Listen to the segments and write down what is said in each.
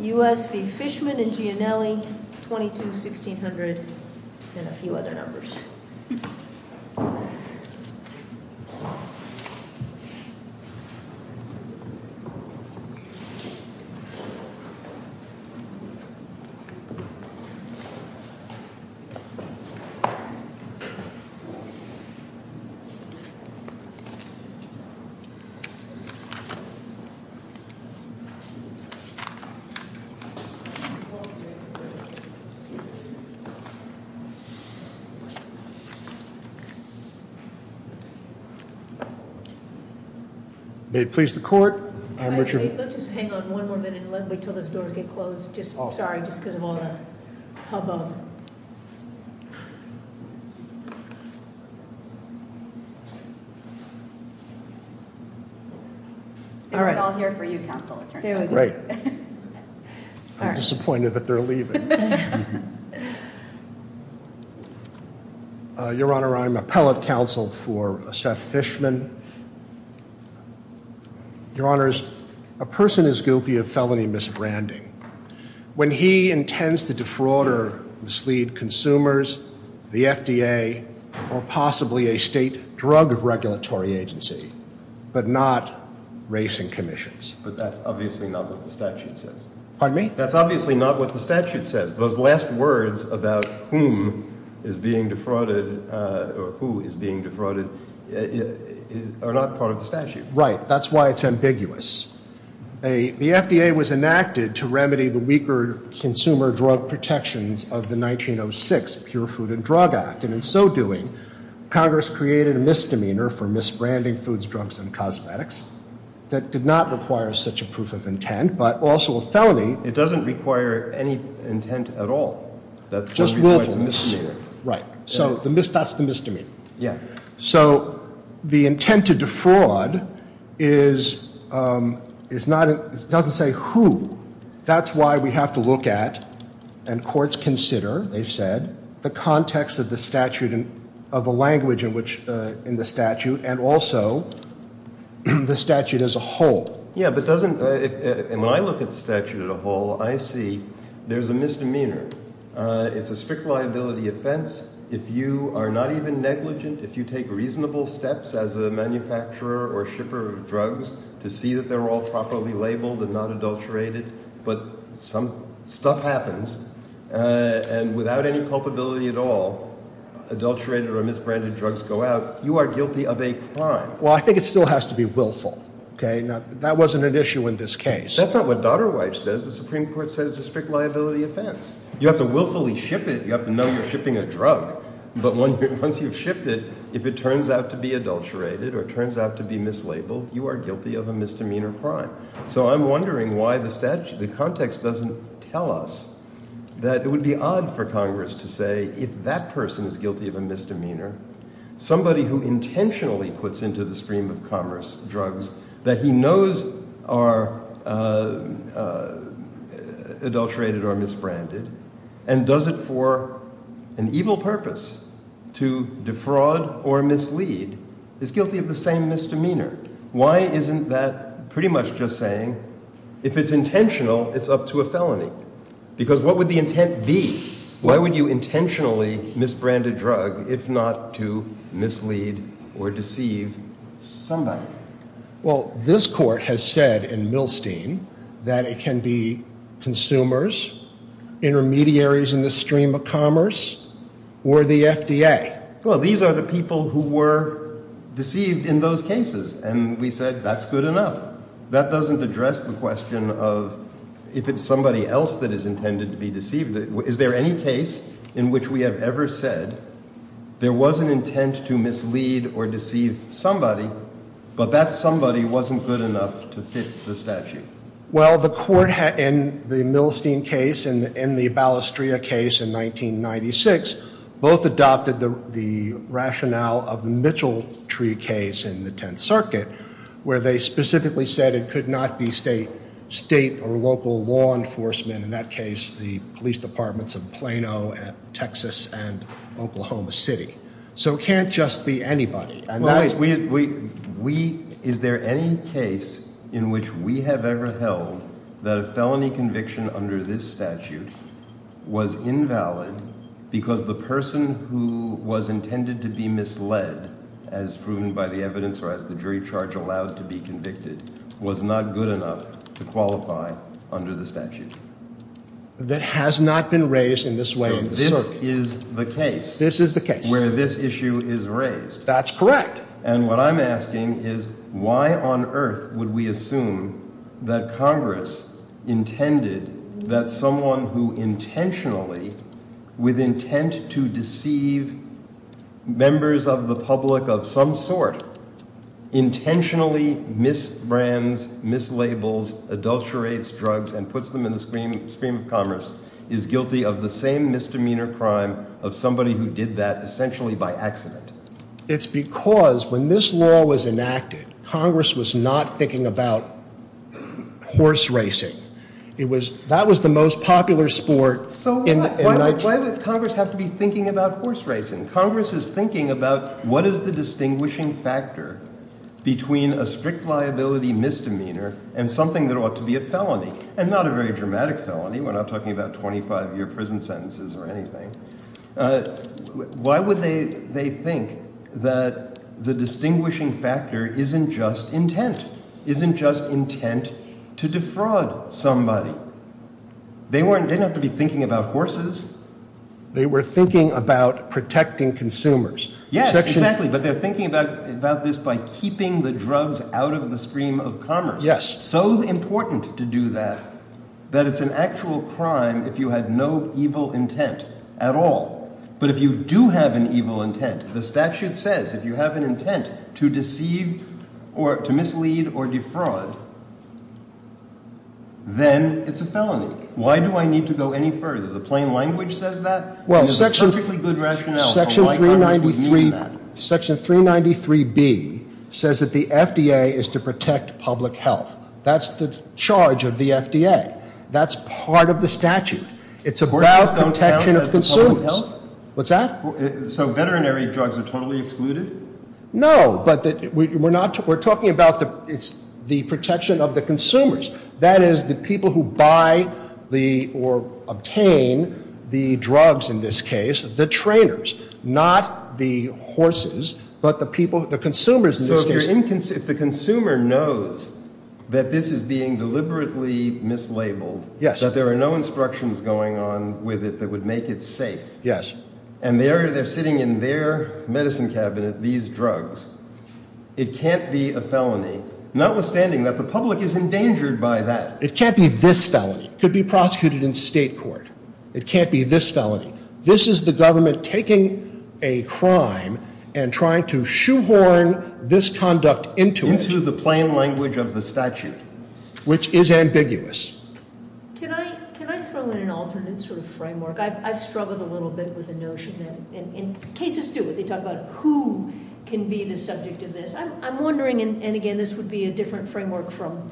U.S. v. Fishman and Gianelli, 22, 1600, and a few other numbers. May it please the court. Hang on one more minute until those doors get closed. Sorry, just because of all the hubbub. All right, I'll hear for you, Counselor. Disappointed that they're leaving. Your Honor, I'm appellate counsel for Seth Fishman. Your Honors, a person is guilty of felony misbranding. When he intends to defraud or mislead consumers, the FDA, or possibly a state drug regulatory agency, but not racing commissions. But that's obviously not what the statute says. Pardon me? That's obviously not what the statute says. Those last words about whom is being defrauded or who is being defrauded are not part of the statute. Right. That's why it's ambiguous. The FDA was enacted to remedy the weaker consumer drug protections of the 1906 Pure Food and Drug Act. And in so doing, Congress created a misdemeanor for misbranding foods, drugs, and cosmetics that did not require such a proof of intent, but also a felony. It doesn't require any intent at all. Right. So that's the misdemeanor. So the intent to defraud doesn't say who. That's why we have to look at, and courts consider, they've said, the context of the statute, of the language in the statute, and also the statute as a whole. Yeah, but doesn't, and when I look at the statute as a whole, I see there's a misdemeanor. It's a strict liability offense. If you are not even negligent, if you take reasonable steps as a manufacturer or shipper of drugs, to see that they're all properly labeled and not adulterated, but some stuff happens, and without any culpability at all, adulterated or misbranded drugs go out, you are guilty of a crime. Well, I think it still has to be willful. Okay? Now, that wasn't an issue in this case. That's not what Daughter Wife says. The Supreme Court says it's a strict liability offense. You have to willfully ship it. You have to know you're shipping a drug, but once you've shipped it, if it turns out to be adulterated or it turns out to be mislabeled, you are guilty of a misdemeanor crime. So I'm wondering why the context doesn't tell us that it would be odd for Congress to say, if that person is guilty of a misdemeanor, somebody who intentionally puts into the stream of commerce drugs that he knows are adulterated or misbranded and does it for an evil purpose to defraud or mislead, is guilty of the same misdemeanor. Why isn't that pretty much just saying, if it's intentional, it's up to a felony? Because what would the intent be? Why would you intentionally misbrand a drug if not to mislead or deceive somebody? Well, this court has said in Milstein that it can be consumers, intermediaries in the stream of commerce, or the FDA. Well, these are the people who were deceived in those cases, and we said that's good enough. That doesn't address the question of if it's somebody else that is intended to be deceived. Is there any case in which we have ever said there was an intent to mislead or deceive somebody, but that somebody wasn't good enough to fit the statute? Well, the court in the Milstein case and in the Balistria case in 1996, both adopted the rationale of the Mitcheltree case in the Tenth Circuit, where they specifically said it could not be state or local law enforcement. In that case, the police departments of Plano, Texas, and Oklahoma City. So it can't just be anybody. Is there any case in which we have ever held that a felony conviction under this statute was invalid, because the person who was intended to be misled, as proven by the evidence, or as the jury charge allowed to be convicted, was not good enough to qualify under the statute? That has not been raised in this way in the circuit. So this is the case. This is the case. Where this issue is raised. That's correct. And what I'm asking is why on earth would we assume that Congress intended that someone who intentionally, with intent to deceive members of the public of some sort, intentionally misbrands, mislabels, adulterates drugs, and puts them in the stream of commerce, is guilty of the same misdemeanor crime of somebody who did that essentially by accident? It's because when this law was enacted, Congress was not thinking about horse racing. That was the most popular sport. So why would Congress have to be thinking about horse racing? Congress is thinking about what is the distinguishing factor between a strict liability misdemeanor and something that ought to be a felony, and not a very dramatic felony. We're not talking about 25-year prison sentences or anything. Why would they think that the distinguishing factor isn't just intent? It's intent to defraud somebody. They didn't have to be thinking about horses. They were thinking about protecting consumers. Yes, exactly. But they're thinking about this by keeping the drugs out of the stream of commerce. Yes. So important to do that, that it's an actual crime if you had no evil intent at all. But if you do have an evil intent, the statute says if you have an intent to deceive or to mislead or defraud, then it's a felony. Why do I need to go any further? The plain language says that, and there's a perfectly good rationale for why Congress would need that. Section 393B says that the FDA is to protect public health. That's the charge of the FDA. That's part of the statute. It's about protection of consumers. What's that? So veterinary drugs are totally excluded? No, but we're talking about the protection of the consumers. That is the people who buy or obtain the drugs in this case, the trainers, not the horses, but the consumers in this case. So if the consumer knows that this is being deliberately mislabeled, that there are no instructions going on with it that would make it safe, and they're sitting in their medicine cabinet, these drugs, it can't be a felony, notwithstanding that the public is endangered by that. It can't be this felony. It could be prosecuted in state court. It can't be this felony. This is the government taking a crime and trying to shoehorn this conduct into it. Into the plain language of the statute. Which is ambiguous. Can I throw in an alternate sort of framework? I've struggled a little bit with the notion, and cases do. They talk about who can be the subject of this. I'm wondering, and again, this would be a different framework from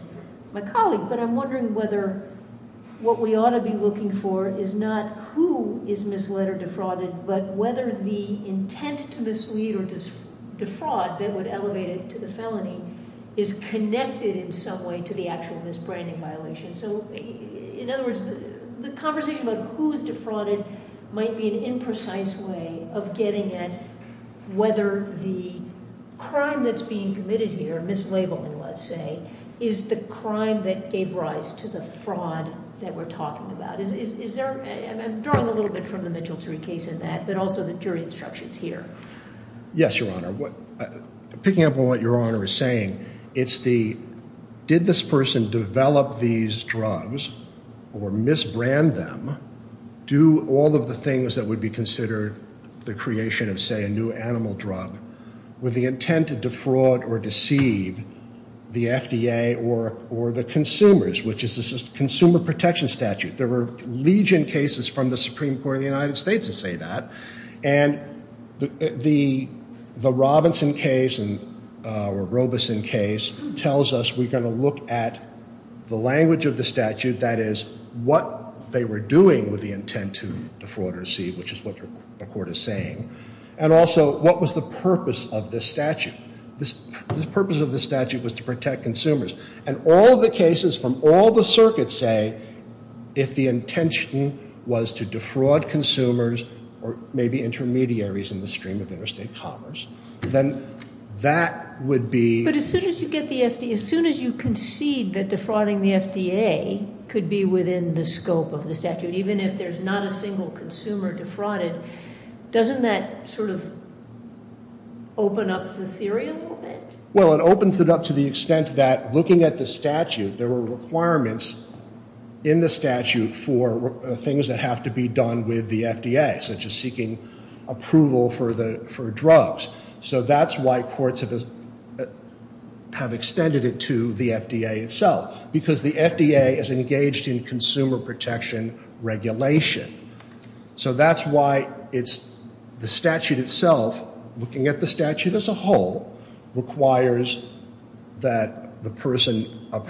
my colleague, but I'm wondering whether what we ought to be looking for is not who is misled or defrauded, but whether the intent to mislead or defraud that would elevate it to the felony is connected in some way to the actual misbranding violation. So in other words, the conversation about who is defrauded might be an imprecise way of getting at whether the crime that's being committed here, mislabeling let's say, is the crime that gave rise to the fraud that we're talking about. I'm drawing a little bit from the Mitchell-Terry case in that, but also the jury instructions here. Yes, Your Honor. Picking up on what Your Honor is saying, it's the, did this person develop these drugs or misbrand them, do all of the things that would be considered the creation of, say, a new animal drug, with the intent to defraud or deceive the FDA or the consumers, which is the Consumer Protection Statute. There were legion cases from the Supreme Court of the United States that say that. And the Robinson case, or Robeson case, tells us we're going to look at the language of the statute, that is, what they were doing with the intent to defraud or deceive, which is what the court is saying. And also, what was the purpose of this statute? The purpose of the statute was to protect consumers. And all the cases from all the circuits say, if the intention was to defraud consumers or maybe intermediaries in the stream of interstate commerce, then that would be... But as soon as you get the FDA, as soon as you concede that defrauding the FDA could be within the scope of the statute, even if there's not a single consumer defrauded, doesn't that sort of open up the theory a little bit? Well, it opens it up to the extent that looking at the statute, there were requirements in the statute for things that have to be done with the FDA, such as seeking approval for drugs. So that's why courts have extended it to the FDA itself, because the FDA is engaged in consumer protection regulation. So that's why the statute itself, looking at the statute as a whole, requires that a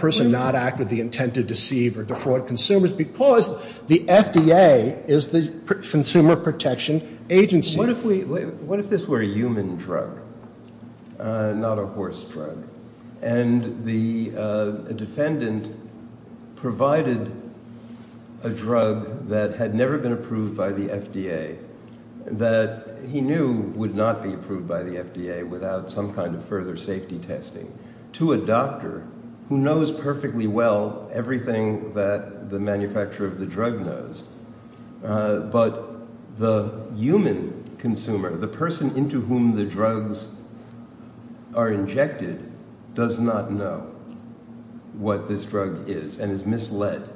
person not act with the intent to deceive or defraud consumers, because the FDA is the consumer protection agency. What if this were a human drug, not a horse drug, and the defendant provided a drug that had never been approved by the FDA, that he knew would not be approved by the FDA without some kind of further safety testing, to a doctor who knows perfectly well everything that the manufacturer of the drug knows, but the human consumer, the person into whom the drugs are injected, does not know what this drug is and is misled?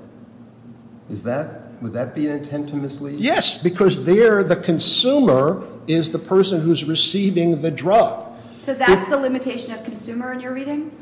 Would that be an intent to mislead? Yes, because there the consumer is the person who's receiving the drug. So that's the limitation of consumer in your reading?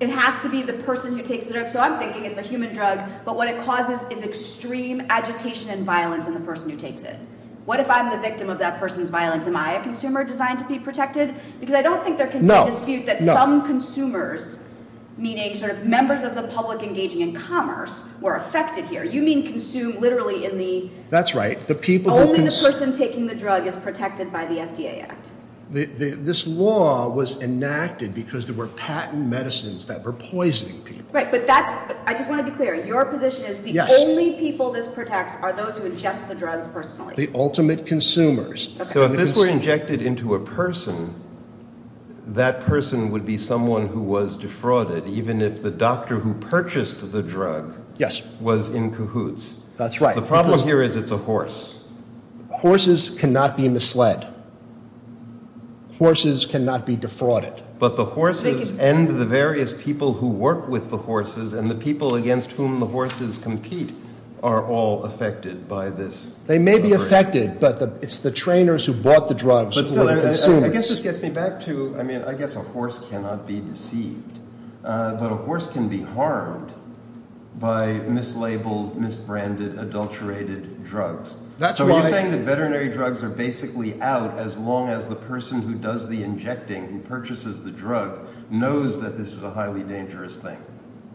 It has to be the person who takes the drug. So I'm thinking it's a human drug, but what it causes is extreme agitation and violence in the person who takes it. What if I'm the victim of that person's violence? Am I a consumer designed to be protected? Because I don't think there can be a dispute that some consumers, meaning sort of members of the public engaging in commerce, were affected here. You mean consumed literally in the… That's right. Only the person taking the drug is protected by the FDA Act. This law was enacted because there were patent medicines that were poisoning people. Right, but that's – I just want to be clear. Your position is the only people this protects are those who ingest the drugs personally. The ultimate consumers. So if this were injected into a person, that person would be someone who was defrauded, even if the doctor who purchased the drug was in cahoots. That's right. The problem here is it's a horse. Horses cannot be misled. Horses cannot be defrauded. But the horses and the various people who work with the horses and the people against whom the horses compete are all affected by this. They may be affected, but it's the trainers who bought the drugs who are the consumers. I guess this gets me back to – I mean, I guess a horse cannot be deceived, but a horse can be harmed by mislabeled, misbranded, adulterated drugs. So you're saying that veterinary drugs are basically out as long as the person who does the injecting and purchases the drug knows that this is a highly dangerous thing.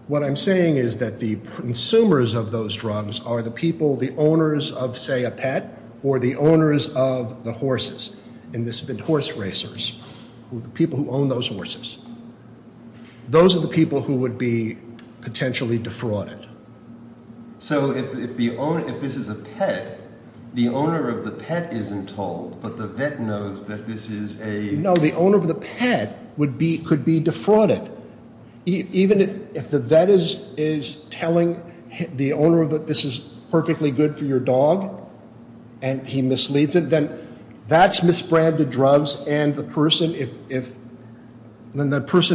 What I'm saying is that the consumers of those drugs are the people, the owners of, say, a pet or the owners of the horses. And this has been horse racers, the people who own those horses. Those are the people who would be potentially defrauded. So if this is a pet, the owner of the pet isn't told, but the vet knows that this is a – No, the owner of the pet could be defrauded. Even if the vet is telling the owner that this is perfectly good for your dog and he misleads it, then that's misbranded drugs, and the person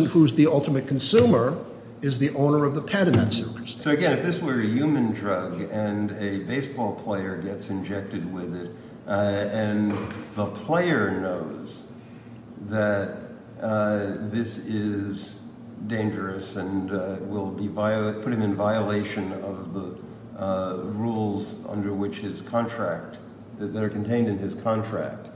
who's the ultimate consumer is the owner of the pet in that circumstance. So, again, if this were a human drug and a baseball player gets injected with it and the player knows that this is dangerous and will put him in violation of the rules under which his contract – that are contained in his contract,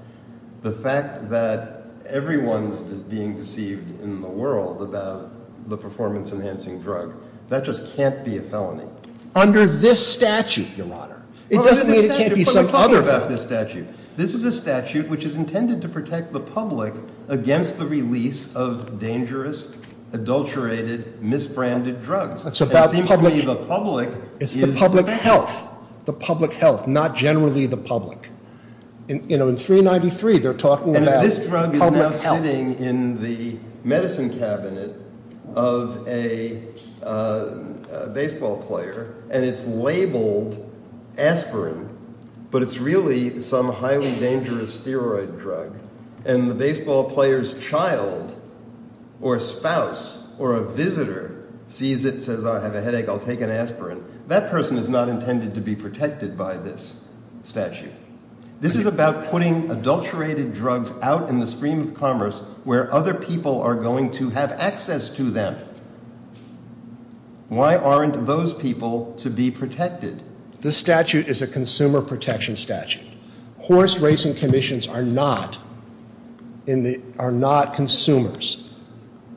the fact that everyone's being deceived in the world about the performance-enhancing drug, that just can't be a felony. Under this statute, your Honor. It doesn't mean it can't be some other felony. But we're talking about this statute. This is a statute which is intended to protect the public against the release of dangerous, adulterated, misbranded drugs. That's about public – It seems to me the public is – It's the public health. The public health, not generally the public. In 393, they're talking about public health. And this drug is now sitting in the medicine cabinet of a baseball player, and it's labeled aspirin, but it's really some highly dangerous steroid drug. And the baseball player's child or spouse or a visitor sees it, says, I have a headache, I'll take an aspirin. That person is not intended to be protected by this statute. This is about putting adulterated drugs out in the stream of commerce where other people are going to have access to them. Why aren't those people to be protected? This statute is a consumer protection statute. Horse racing commissions are not consumers.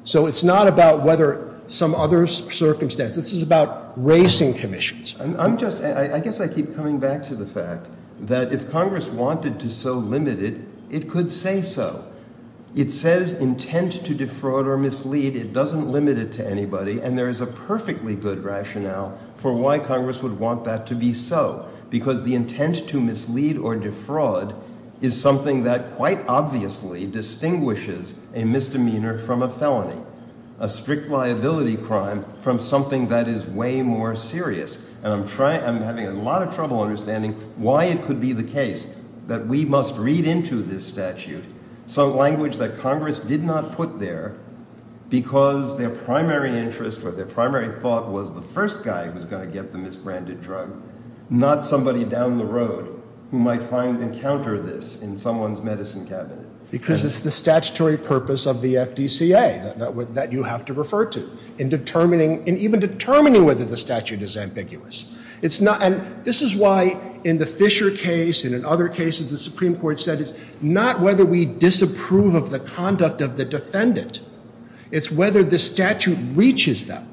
So it's not about whether some other circumstance. This is about racing commissions. I guess I keep coming back to the fact that if Congress wanted to so limit it, it could say so. It says intent to defraud or mislead. It doesn't limit it to anybody, and there is a perfectly good rationale for why Congress would want that to be so, because the intent to mislead or defraud is something that quite obviously distinguishes a misdemeanor from a felony, a strict liability crime from something that is way more serious. And I'm having a lot of trouble understanding why it could be the case that we must read into this statute some language that Congress did not put there because their primary interest or their primary thought was the first guy who's going to get the misbranded drug, not somebody down the road who might find and encounter this in someone's medicine cabinet. Because it's the statutory purpose of the FDCA that you have to refer to in determining and even determining whether the statute is ambiguous. It's not. And this is why in the Fisher case and in other cases the Supreme Court said it's not whether we disapprove of the conduct of the defendant. It's whether the statute reaches them.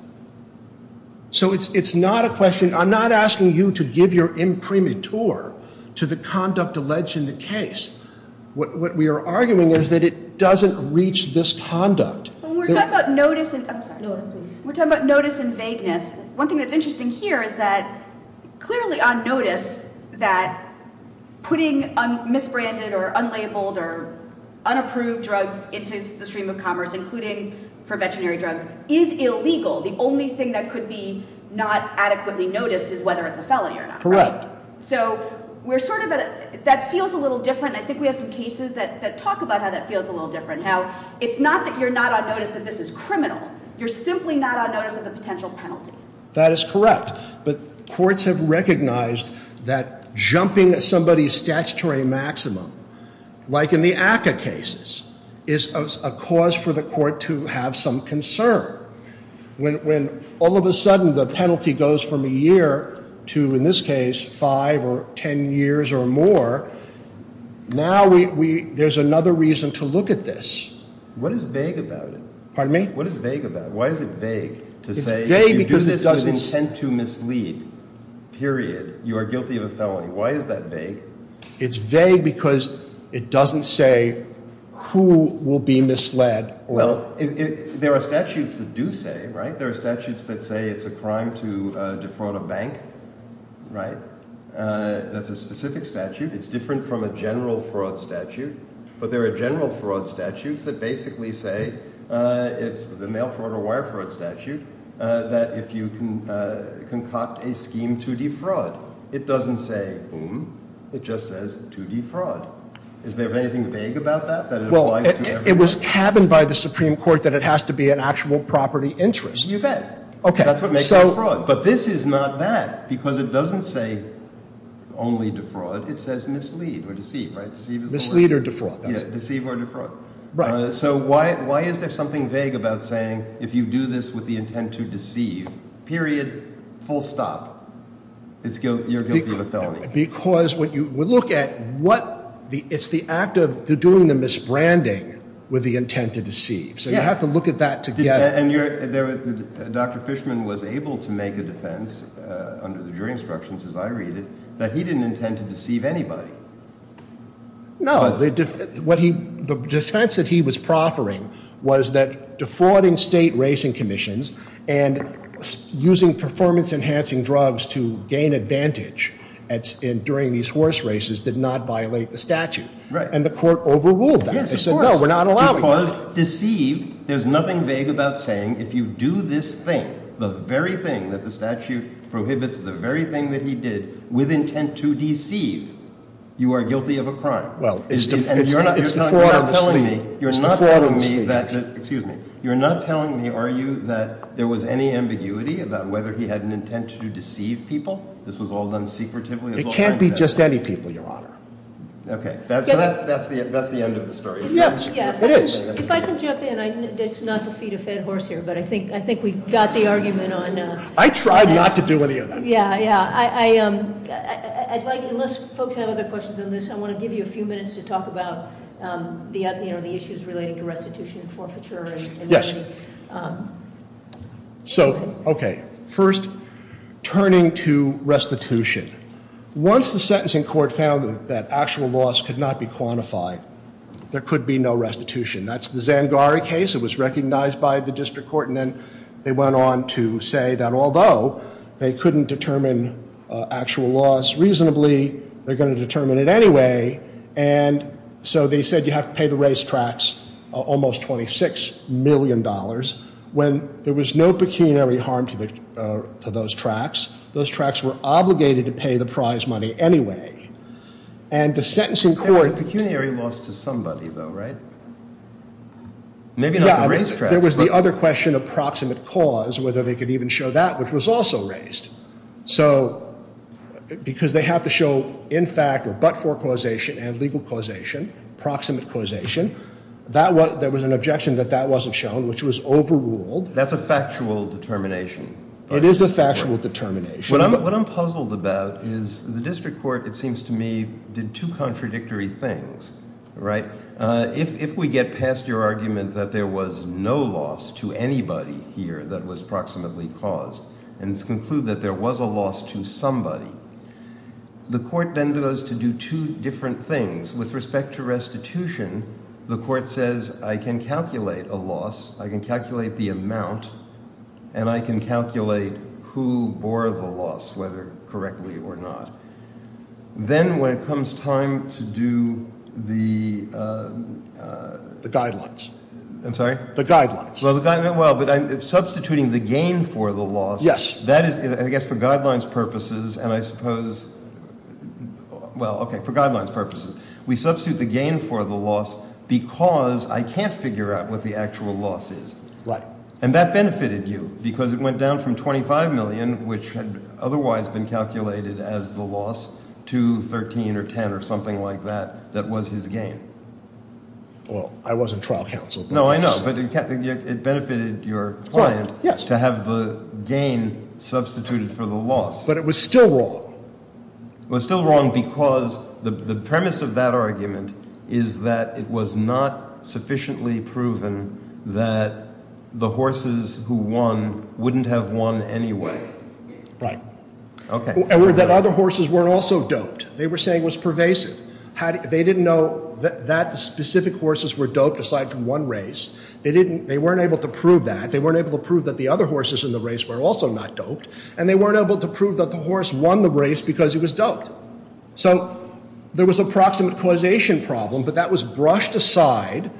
So it's not a question. I'm not asking you to give your imprimatur to the conduct alleged in the case. What we are arguing is that it doesn't reach this conduct. We're talking about notice and vagueness. One thing that's interesting here is that clearly on notice that putting misbranded or unlabeled or unapproved drugs into the stream of commerce including for veterinary drugs is illegal. The only thing that could be not adequately noticed is whether it's a felony or not, right? So that feels a little different. I think we have some cases that talk about how that feels a little different. How it's not that you're not on notice that this is criminal. You're simply not on notice of the potential penalty. That is correct. But courts have recognized that jumping somebody's statutory maximum, like in the ACCA cases, is a cause for the court to have some concern. When all of a sudden the penalty goes from a year to, in this case, five or ten years or more, now there's another reason to look at this. What is vague about it? Pardon me? What is vague about it? Why is it vague to say if you do this with intent to mislead, period, you are guilty of a felony? Why is that vague? It's vague because it doesn't say who will be misled. Well, there are statutes that do say, right? There are statutes that say it's a crime to defraud a bank, right? That's a specific statute. It's different from a general fraud statute. But there are general fraud statutes that basically say it's a mail fraud or wire fraud statute, that if you concoct a scheme to defraud, it doesn't say whom. It just says to defraud. Is there anything vague about that? Well, it was cabined by the Supreme Court that it has to be an actual property interest. You bet. That's what makes it a fraud. But this is not that because it doesn't say only defraud. It says mislead or deceive, right? Mislead or defraud. Deceive or defraud. Right. So why is there something vague about saying if you do this with the intent to deceive, period, full stop, you're guilty of a felony? Because when you look at what the act of doing the misbranding with the intent to deceive. So you have to look at that together. And Dr. Fishman was able to make a defense under the jury instructions, as I read it, that he didn't intend to deceive anybody. The defense that he was proffering was that defrauding state racing commissions and using performance enhancing drugs to gain advantage during these horse races did not violate the statute. Right. And the court overruled that. Yes, of course. It said, no, we're not allowing that. Because deceive, there's nothing vague about saying if you do this thing, the very thing that the statute prohibits, the very thing that he did with intent to deceive, you are guilty of a crime. Well, it's defraud of the state. It's defraud of the state. Excuse me. You're not telling me, are you, that there was any ambiguity about whether he had an intent to deceive people? This was all done secretively? It can't be just any people, Your Honor. Okay. That's the end of the story. Yes, it is. If I can jump in. It's not to feed a fed horse here, but I think we got the argument on. I tried not to do any of that. Yeah, yeah. I'd like, unless folks have other questions on this, I want to give you a few minutes to talk about the issues relating to restitution and forfeiture. Yes. So, okay, first, turning to restitution. Once the sentencing court found that actual loss could not be quantified, there could be no restitution. That's the Zangari case. It was recognized by the district court, and then they went on to say that although they couldn't determine actual loss reasonably, they're going to determine it anyway, and so they said you have to pay the racetracks almost $26 million. When there was no pecuniary harm to those tracks, those tracks were obligated to pay the prize money anyway. And the sentencing court— There was a pecuniary loss to somebody, though, right? Maybe not the racetracks. Yeah, there was the other question of proximate cause, whether they could even show that, which was also raised. So because they have to show in fact or but-for causation and legal causation, proximate causation, there was an objection that that wasn't shown, which was overruled. That's a factual determination. It is a factual determination. What I'm puzzled about is the district court, it seems to me, did two contradictory things, right? If we get past your argument that there was no loss to anybody here that was proximately caused and conclude that there was a loss to somebody, the court then goes to do two different things. With respect to restitution, the court says I can calculate a loss, I can calculate the amount, and I can calculate who bore the loss, whether correctly or not. Then when it comes time to do the— The guidelines. I'm sorry? The guidelines. Well, but substituting the gain for the loss— Yes. I guess for guidelines purposes, and I suppose—well, okay, for guidelines purposes. We substitute the gain for the loss because I can't figure out what the actual loss is. Right. And that benefited you because it went down from $25 million, which had otherwise been calculated as the loss, to $13 or $10 or something like that that was his gain. Well, I wasn't trial counsel. No, I know. But it benefited your client to have the gain substituted for the loss. But it was still wrong. It was still wrong because the premise of that argument is that it was not sufficiently proven that the horses who won wouldn't have won anyway. Right. Okay. And that other horses weren't also doped. They were saying it was pervasive. They didn't know that the specific horses were doped aside from one race. They weren't able to prove that. They weren't able to prove that the other horses in the race were also not doped. And they weren't able to prove that the horse won the race because he was doped. So there was a proximate causation problem, but that was brushed aside.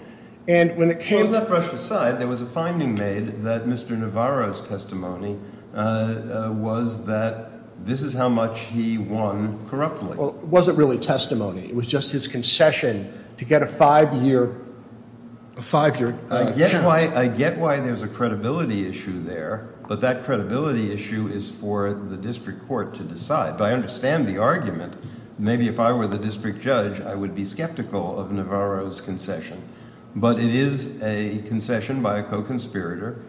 And when it came to— Well, it was not brushed aside. There was a finding made that Mr. Navarro's testimony was that this is how much he won corruptly. It wasn't really testimony. It was just his concession to get a five-year charge. I get why there's a credibility issue there, but that credibility issue is for the district court to decide. I understand the argument. Maybe if I were the district judge, I would be skeptical of Navarro's concession. But it is a concession by a co-conspirator.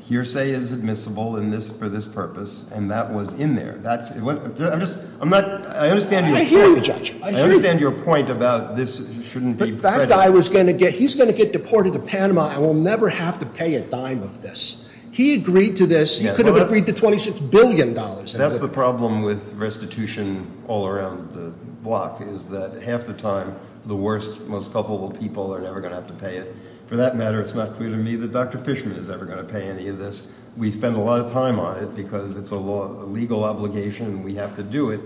Hearsay is admissible for this purpose, and that was in there. I understand your point about this shouldn't be prejudiced. That guy was going to get—he's going to get deported to Panama and will never have to pay a dime of this. He agreed to this. He could have agreed to $26 billion. That's the problem with restitution all around the block, is that half the time the worst, most culpable people are never going to have to pay it. For that matter, it's not clear to me that Dr. Fishman is ever going to pay any of this. We spend a lot of time on it because it's a legal obligation and we have to do it.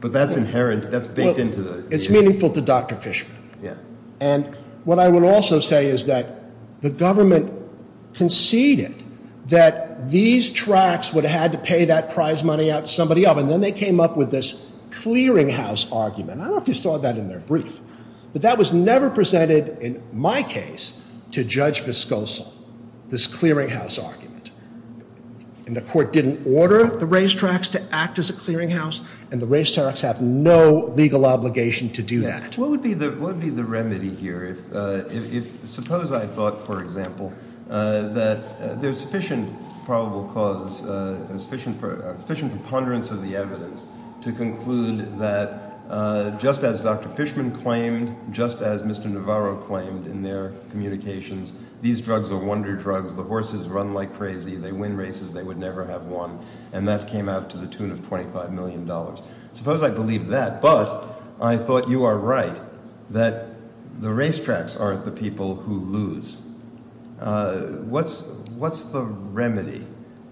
But that's inherent. That's baked into the— It's meaningful to Dr. Fishman. Yeah. And what I would also say is that the government conceded that these tracts would have had to pay that prize money out to somebody else, and then they came up with this clearinghouse argument. I don't know if you saw that in their brief. But that was never presented, in my case, to Judge Vescoso, this clearinghouse argument. And the court didn't order the racetracks to act as a clearinghouse, and the racetracks have no legal obligation to do that. What would be the remedy here if—suppose I thought, for example, that there's sufficient probable cause, sufficient preponderance of the evidence to conclude that just as Dr. Fishman claimed, just as Mr. Navarro claimed in their communications, these drugs are wonder drugs. The horses run like crazy. They win races they would never have won. And that came out to the tune of $25 million. Suppose I believe that, but I thought you are right that the racetracks aren't the people who lose. What's the remedy?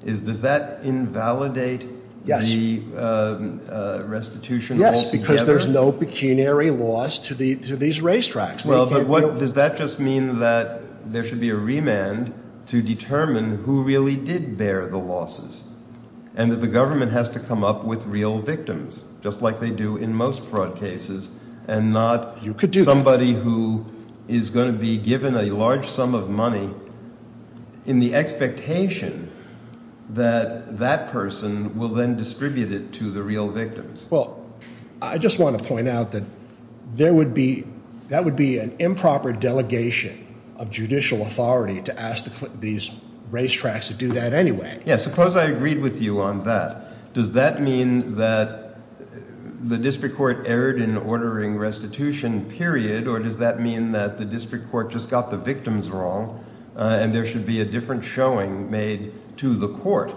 Does that invalidate the restitution altogether? Yes, because there's no pecuniary loss to these racetracks. Well, but does that just mean that there should be a remand to determine who really did bear the losses and that the government has to come up with real victims, just like they do in most fraud cases, and not somebody who is going to be given a large sum of money in the expectation that that person will then distribute it to the real victims? Well, I just want to point out that there would be—that would be an improper delegation of judicial authority to ask these racetracks to do that anyway. Yes, suppose I agreed with you on that. Does that mean that the district court erred in ordering restitution, period, or does that mean that the district court just got the victims wrong and there should be a different showing made to the court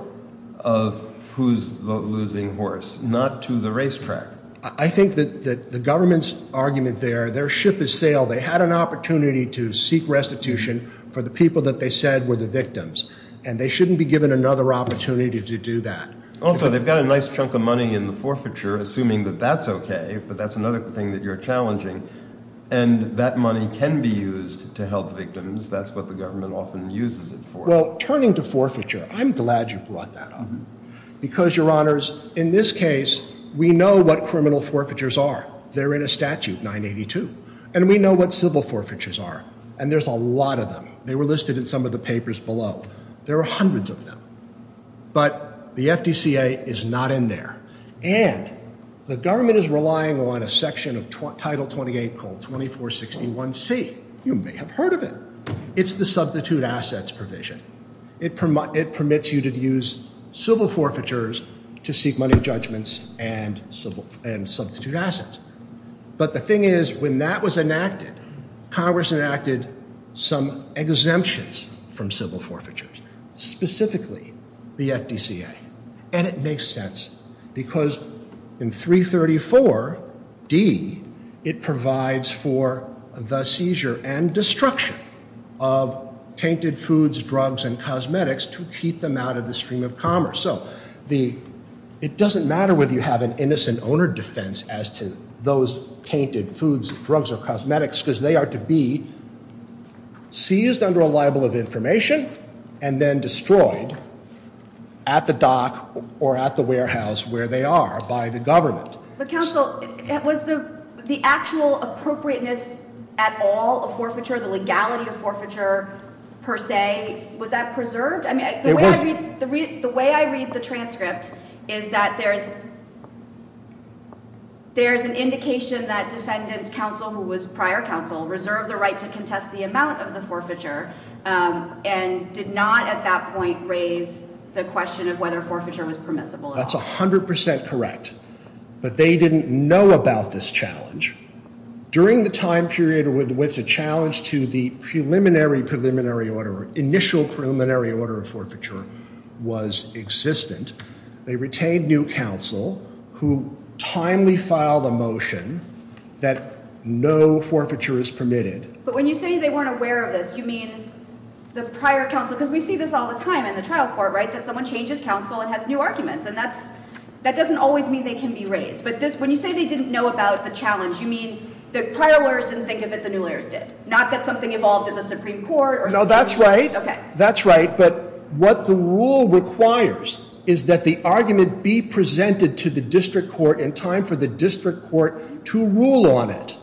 of who's the losing horse, not to the racetrack? I think that the government's argument there, their ship has sailed. They had an opportunity to seek restitution for the people that they said were the victims, and they shouldn't be given another opportunity to do that. Also, they've got a nice chunk of money in the forfeiture, assuming that that's okay, but that's another thing that you're challenging, and that money can be used to help victims. That's what the government often uses it for. Well, turning to forfeiture, I'm glad you brought that up because, Your Honors, in this case, we know what criminal forfeitures are. They're in a statute, 982, and we know what civil forfeitures are, and there's a lot of them. They were listed in some of the papers below. There are hundreds of them, but the FDCA is not in there, and the government is relying on a section of Title 28 called 2461C. You may have heard of it. It's the substitute assets provision. It permits you to use civil forfeitures to seek money judgments and substitute assets, but the thing is, when that was enacted, Congress enacted some exemptions from civil forfeitures, specifically the FDCA, and it makes sense because in 334D, it provides for the seizure and destruction of tainted foods, drugs, and cosmetics to keep them out of the stream of commerce. It doesn't matter whether you have an innocent owner defense as to those tainted foods, drugs, or cosmetics because they are to be seized under a libel of information and then destroyed at the dock or at the warehouse where they are by the government. But, Counsel, was the actual appropriateness at all of forfeiture, the legality of forfeiture, per se, was that preserved? I mean, the way I read the transcript is that there's an indication that defendants' counsel, who was prior counsel, reserved the right to contest the amount of the forfeiture and did not at that point raise the question of whether forfeiture was permissible at all. That's 100% correct, but they didn't know about this challenge. During the time period with which a challenge to the preliminary preliminary order, initial preliminary order of forfeiture, was existent, they retained new counsel who timely filed a motion that no forfeiture is permitted. But when you say they weren't aware of this, you mean the prior counsel? Because we see this all the time in the trial court, right, that someone changes counsel and has new arguments, and that doesn't always mean they can be raised. But when you say they didn't know about the challenge, you mean the prior lawyers didn't think of it, the new lawyers did? Not that something evolved in the Supreme Court? No, that's right. That's right. But what the rule requires is that the argument be presented to the district court in time for the district court to rule on it.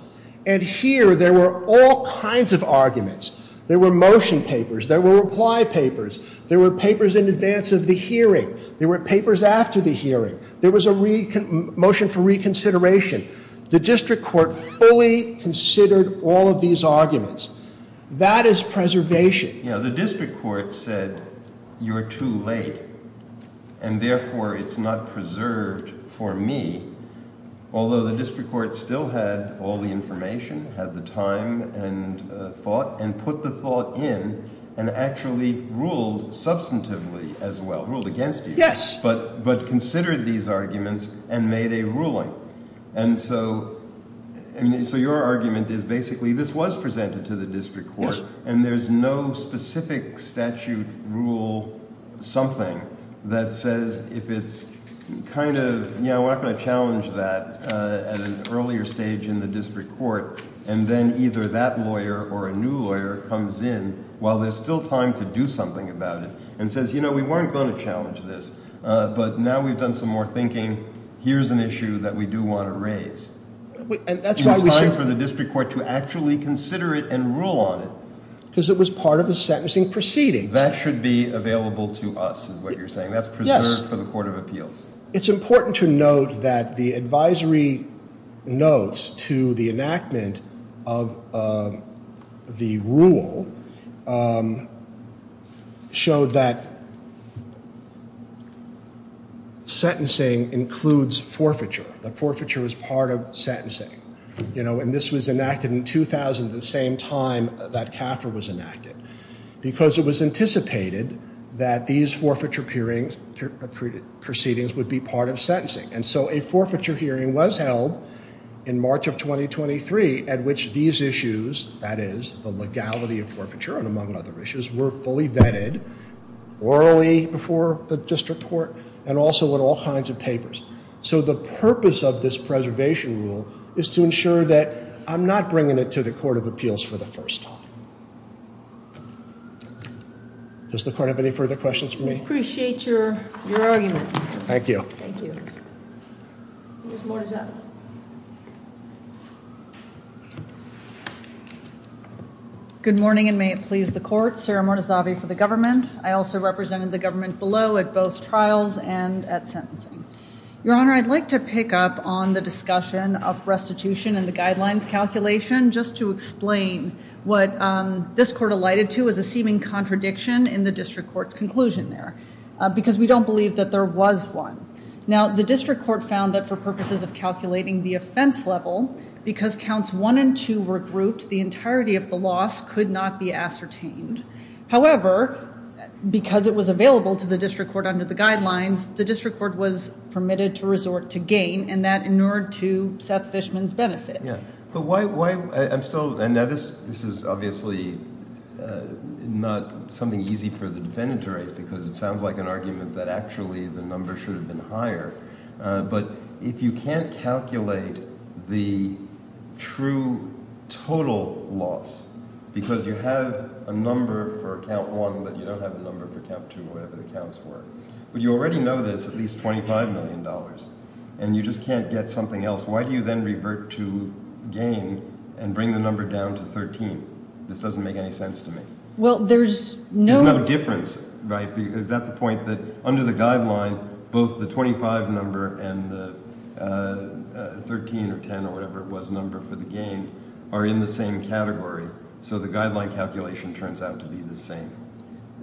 And here there were all kinds of arguments. There were motion papers. There were reply papers. There were papers in advance of the hearing. There were papers after the hearing. There was a motion for reconsideration. The district court fully considered all of these arguments. That is preservation. Yeah, the district court said you're too late, and therefore it's not preserved for me, although the district court still had all the information, had the time and thought, and put the thought in and actually ruled substantively as well, ruled against you. Yes. But considered these arguments and made a ruling. And so your argument is basically this was presented to the district court, and there's no specific statute rule something that says if it's kind of, you know, we're not going to challenge that at an earlier stage in the district court, and then either that lawyer or a new lawyer comes in while there's still time to do something about it and says, you know, we weren't going to challenge this, but now we've done some more thinking. Here's an issue that we do want to raise. It's time for the district court to actually consider it and rule on it. Because it was part of the sentencing proceeding. That should be available to us is what you're saying. That's preserved for the court of appeals. It's important to note that the advisory notes to the enactment of the rule show that sentencing includes forfeiture. That forfeiture is part of sentencing. You know, and this was enacted in 2000 at the same time that CAFR was enacted. Because it was anticipated that these forfeiture proceedings would be part of sentencing. And so a forfeiture hearing was held in March of 2023 at which these issues, that is the legality of forfeiture and among other issues, were fully vetted orally before the district court and also in all kinds of papers. So the purpose of this preservation rule is to ensure that I'm not bringing it to the court of appeals for the first time. Does the court have any further questions for me? Appreciate your argument. Thank you. Thank you. Good morning and may it please the court. Sarah Mortazavi for the government. I also represented the government below at both trials and at sentencing. Your Honor, I'd like to pick up on the discussion of restitution and the guidelines calculation just to explain what this court alighted to as a seeming contradiction in the district court's conclusion there. Because we don't believe that there was one. Now the district court found that for purposes of calculating the offense level, because counts one and two were grouped, the entirety of the loss could not be ascertained. However, because it was available to the district court under the guidelines, the district court was permitted to resort to gain and that inured to Seth Fishman's benefit. Yeah. But why – I'm still – and now this is obviously not something easy for the defendant to raise because it sounds like an argument that actually the number should have been higher. But if you can't calculate the true total loss because you have a number for count one, but you don't have a number for count two or whatever the counts were, but you already know there's at least $25 million and you just can't get something else, why do you then revert to gain and bring the number down to 13? This doesn't make any sense to me. Well, there's no – There's no difference, right? Is that the point that under the guideline both the 25 number and the 13 or 10 or whatever it was number for the gain are in the same category, so the guideline calculation turns out to be the same?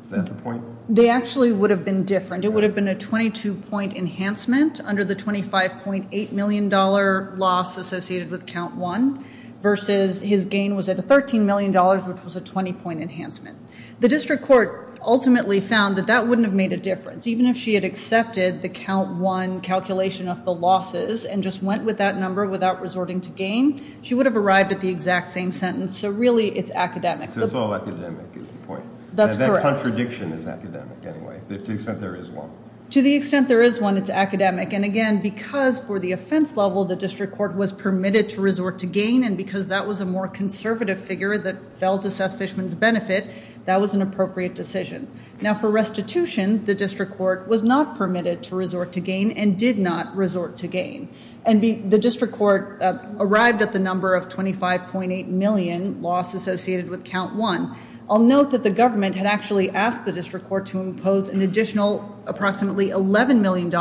Is that the point? They actually would have been different. It would have been a 22-point enhancement under the $25.8 million loss associated with count one versus his gain was at $13 million, which was a 20-point enhancement. The district court ultimately found that that wouldn't have made a difference. Even if she had accepted the count one calculation of the losses and just went with that number without resorting to gain, she would have arrived at the exact same sentence. So really it's academic. So it's all academic is the point. That's correct. And that contradiction is academic anyway to the extent there is one. To the extent there is one, it's academic. And again, because for the offense level the district court was permitted to resort to gain and because that was a more conservative figure that fell to Seth Fishman's benefit, that was an appropriate decision. Now for restitution, the district court was not permitted to resort to gain and did not resort to gain. And the district court arrived at the number of 25.8 million loss associated with count one. I'll note that the government had actually asked the district court to impose an additional approximately $11 million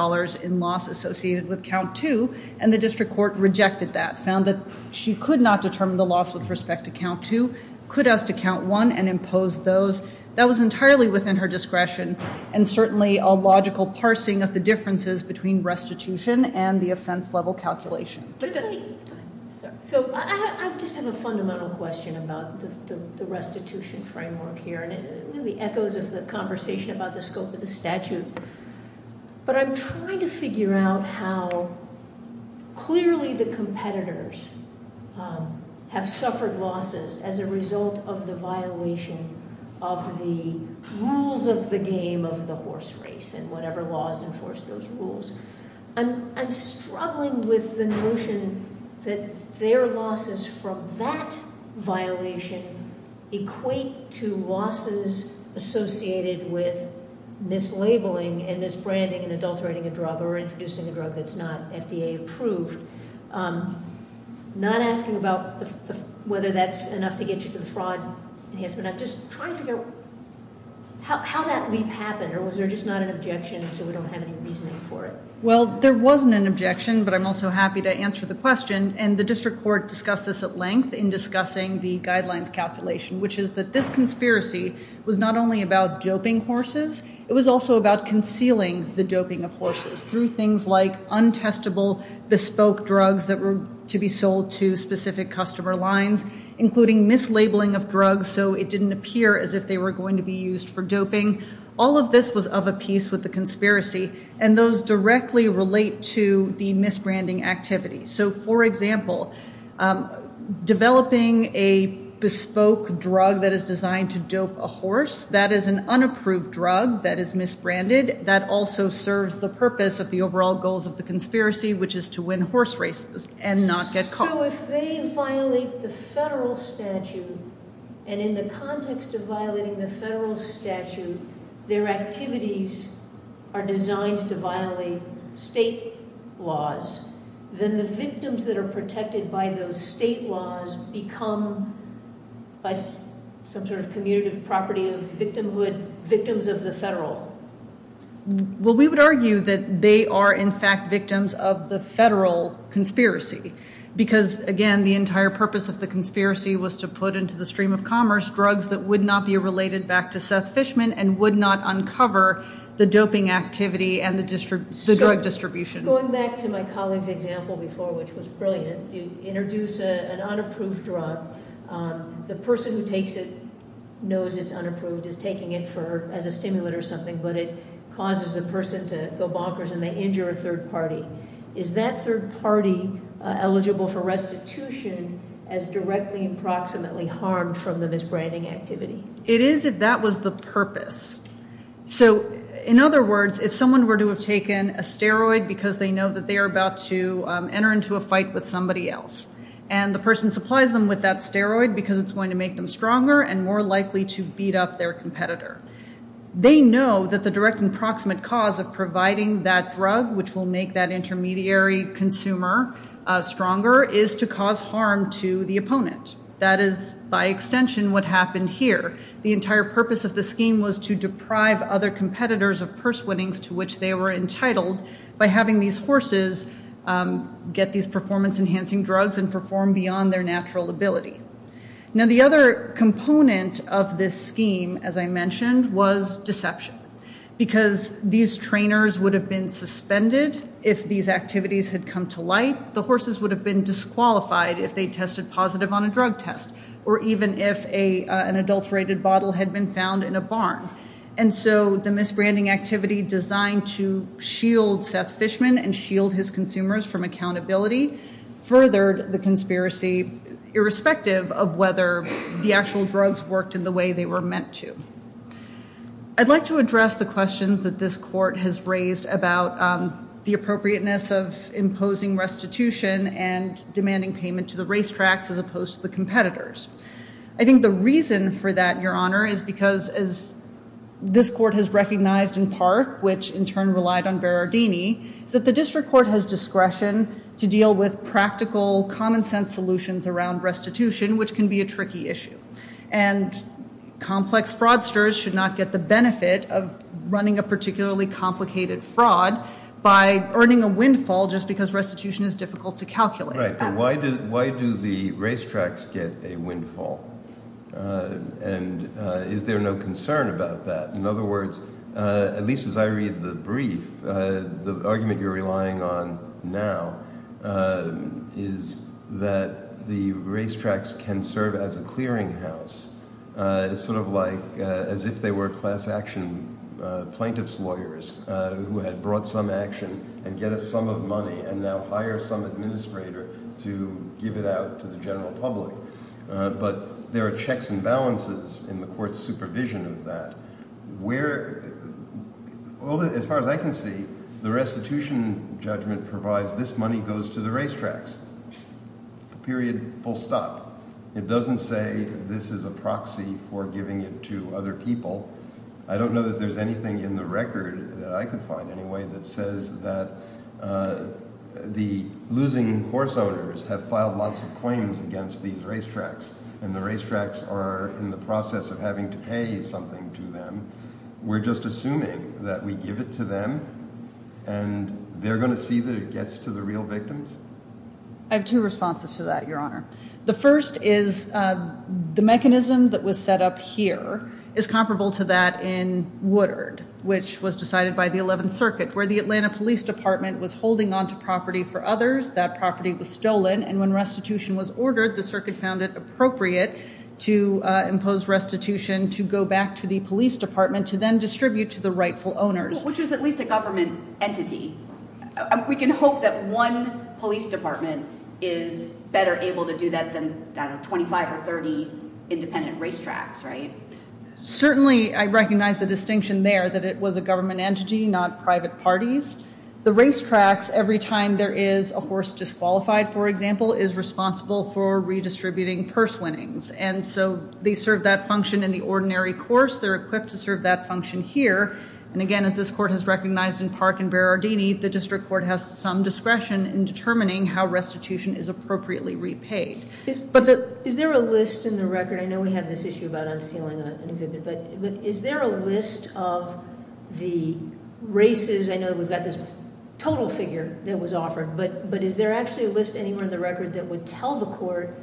in loss associated with count two, and the district court rejected that, found that she could not determine the loss with respect to count two, could ask to count one and impose those. That was entirely within her discretion and certainly a logical parsing of the differences between restitution and the offense level calculation. So I just have a fundamental question about the restitution framework here, and it echoes of the conversation about the scope of the statute. But I'm trying to figure out how clearly the competitors have suffered losses as a result of the violation of the rules of the game of the horse race and whatever laws enforce those rules. I'm struggling with the notion that their losses from that violation equate to losses associated with mislabeling and misbranding and adulterating a drug or introducing a drug that's not FDA approved. I'm not asking about whether that's enough to get you to the fraud, but I'm just trying to figure out how that leap happened, or was there just not an objection so we don't have any reasoning for it? Well, there wasn't an objection, but I'm also happy to answer the question. And the district court discussed this at length in discussing the guidelines calculation, which is that this conspiracy was not only about doping horses, it was also about concealing the doping of horses through things like untestable bespoke drugs that were to be sold to specific customer lines, including mislabeling of drugs so it didn't appear as if they were going to be used for doping. All of this was of a piece with the conspiracy, and those directly relate to the misbranding activity. So, for example, developing a bespoke drug that is designed to dope a horse, that is an unapproved drug that is misbranded. That also serves the purpose of the overall goals of the conspiracy, which is to win horse races and not get caught. So if they violate the federal statute, and in the context of violating the federal statute, their activities are designed to violate state laws, then the victims that are protected by those state laws become, by some sort of commutative property of victimhood, victims of the federal. Well, we would argue that they are, in fact, victims of the federal conspiracy, because, again, the entire purpose of the conspiracy was to put into the stream of commerce drugs that would not be related back to Seth Fishman and would not uncover the doping activity and the drug distribution. Going back to my colleague's example before, which was brilliant, you introduce an unapproved drug. The person who takes it knows it's unapproved, is taking it as a stimulant or something, but it causes the person to go bonkers and they injure a third party. Is that third party eligible for restitution as directly and proximately harmed from the misbranding activity? It is if that was the purpose. So, in other words, if someone were to have taken a steroid because they know that they are about to enter into a fight with somebody else and the person supplies them with that steroid because it's going to make them stronger and more likely to beat up their competitor, they know that the direct and proximate cause of providing that drug, which will make that intermediary consumer stronger, is to cause harm to the opponent. That is, by extension, what happened here. The entire purpose of the scheme was to deprive other competitors of purse winnings to which they were entitled by having these horses get these performance-enhancing drugs and perform beyond their natural ability. Now, the other component of this scheme, as I mentioned, was deception. Because these trainers would have been suspended if these activities had come to light, the horses would have been disqualified if they tested positive on a drug test or even if an adulterated bottle had been found in a barn. And so the misbranding activity designed to shield Seth Fishman and shield his consumers from accountability furthered the conspiracy, irrespective of whether the actual drugs worked in the way they were meant to. I'd like to address the questions that this court has raised about the appropriateness of imposing restitution and demanding payment to the racetracks as opposed to the competitors. I think the reason for that, Your Honor, is because, as this court has recognized in part, which in turn relied on Berardini, is that the district court has discretion to deal with practical, common-sense solutions around restitution, which can be a tricky issue. And complex fraudsters should not get the benefit of running a particularly complicated fraud by earning a windfall just because restitution is difficult to calculate. Right, but why do the racetracks get a windfall? And is there no concern about that? In other words, at least as I read the brief, the argument you're relying on now is that the racetracks can serve as a clearinghouse. It's sort of like as if they were class-action plaintiff's lawyers who had brought some action and get a sum of money and now hire some administrator to give it out to the general public. But there are checks and balances in the court's supervision of that. Where, as far as I can see, the restitution judgment provides this money goes to the racetracks, period, full stop. It doesn't say this is a proxy for giving it to other people. I don't know that there's anything in the record that I could find anyway that says that the losing horse owners have filed lots of claims against these racetracks and the racetracks are in the process of having to pay something to them. We're just assuming that we give it to them and they're going to see that it gets to the real victims? I have two responses to that, Your Honor. The first is the mechanism that was set up here is comparable to that in Woodard, which was decided by the 11th Circuit, where the Atlanta Police Department was holding onto property for others. That property was stolen, and when restitution was ordered, the circuit found it appropriate to impose restitution to go back to the police department to then distribute to the rightful owners. Which is at least a government entity. We can hope that one police department is better able to do that than 25 or 30 independent racetracks, right? Certainly, I recognize the distinction there that it was a government entity, not private parties. The racetracks, every time there is a horse disqualified, for example, is responsible for redistributing purse winnings. And so they serve that function in the ordinary course. They're equipped to serve that function here. And again, as this court has recognized in Park and Berardini, the district court has some discretion in determining how restitution is appropriately repaid. Is there a list in the record? I know we have this issue about unsealing an exhibit, but is there a list of the races? I know that we've got this total figure that was offered, but is there actually a list anywhere in the record that would tell the court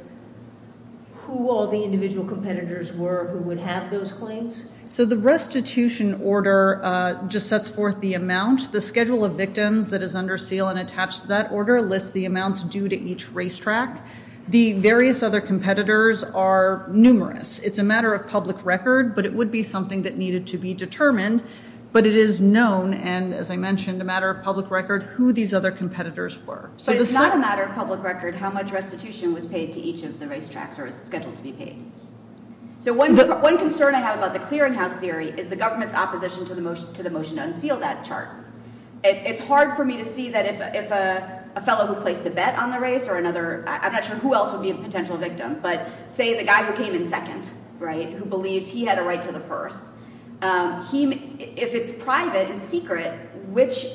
who all the individual competitors were who would have those claims? So the restitution order just sets forth the amount. The schedule of victims that is under seal and attached to that order lists the amounts due to each racetrack. The various other competitors are numerous. It's a matter of public record, but it would be something that needed to be determined. But it is known, and as I mentioned, a matter of public record, who these other competitors were. But it's not a matter of public record how much restitution was paid to each of the racetracks or is scheduled to be paid. So one concern I have about the clearinghouse theory is the government's opposition to the motion to unseal that chart. It's hard for me to see that if a fellow who placed a bet on the race or another, I'm not sure who else would be a potential victim, but say the guy who came in second, right, who believes he had a right to the purse, if it's private and secret, which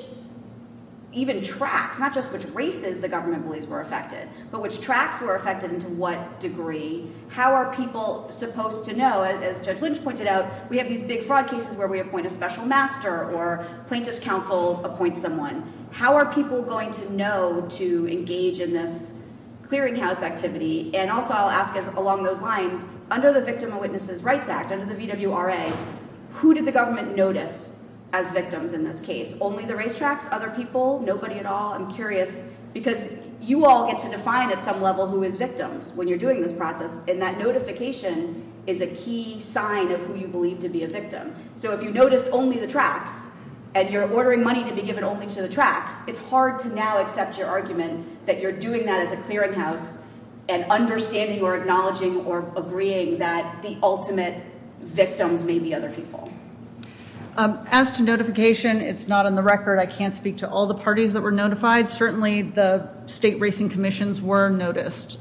even tracks, not just which races the government believes were affected, but which tracks were affected and to what degree. How are people supposed to know? As Judge Lynch pointed out, we have these big fraud cases where we appoint a special master or plaintiff's counsel appoints someone. How are people going to know to engage in this clearinghouse activity? And also I'll ask along those lines, under the Victim and Witnesses Rights Act, under the VWRA, who did the government notice as victims in this case? Only the racetracks? Other people? Nobody at all? I'm curious because you all get to define at some level who is victims when you're doing this process, and that notification is a key sign of who you believe to be a victim. So if you noticed only the tracks and you're ordering money to be given only to the tracks, it's hard to now accept your argument that you're doing that as a clearinghouse and understanding or acknowledging or agreeing that the ultimate victims may be other people. As to notification, it's not on the record. I can't speak to all the parties that were notified. Certainly the state racing commissions were noticed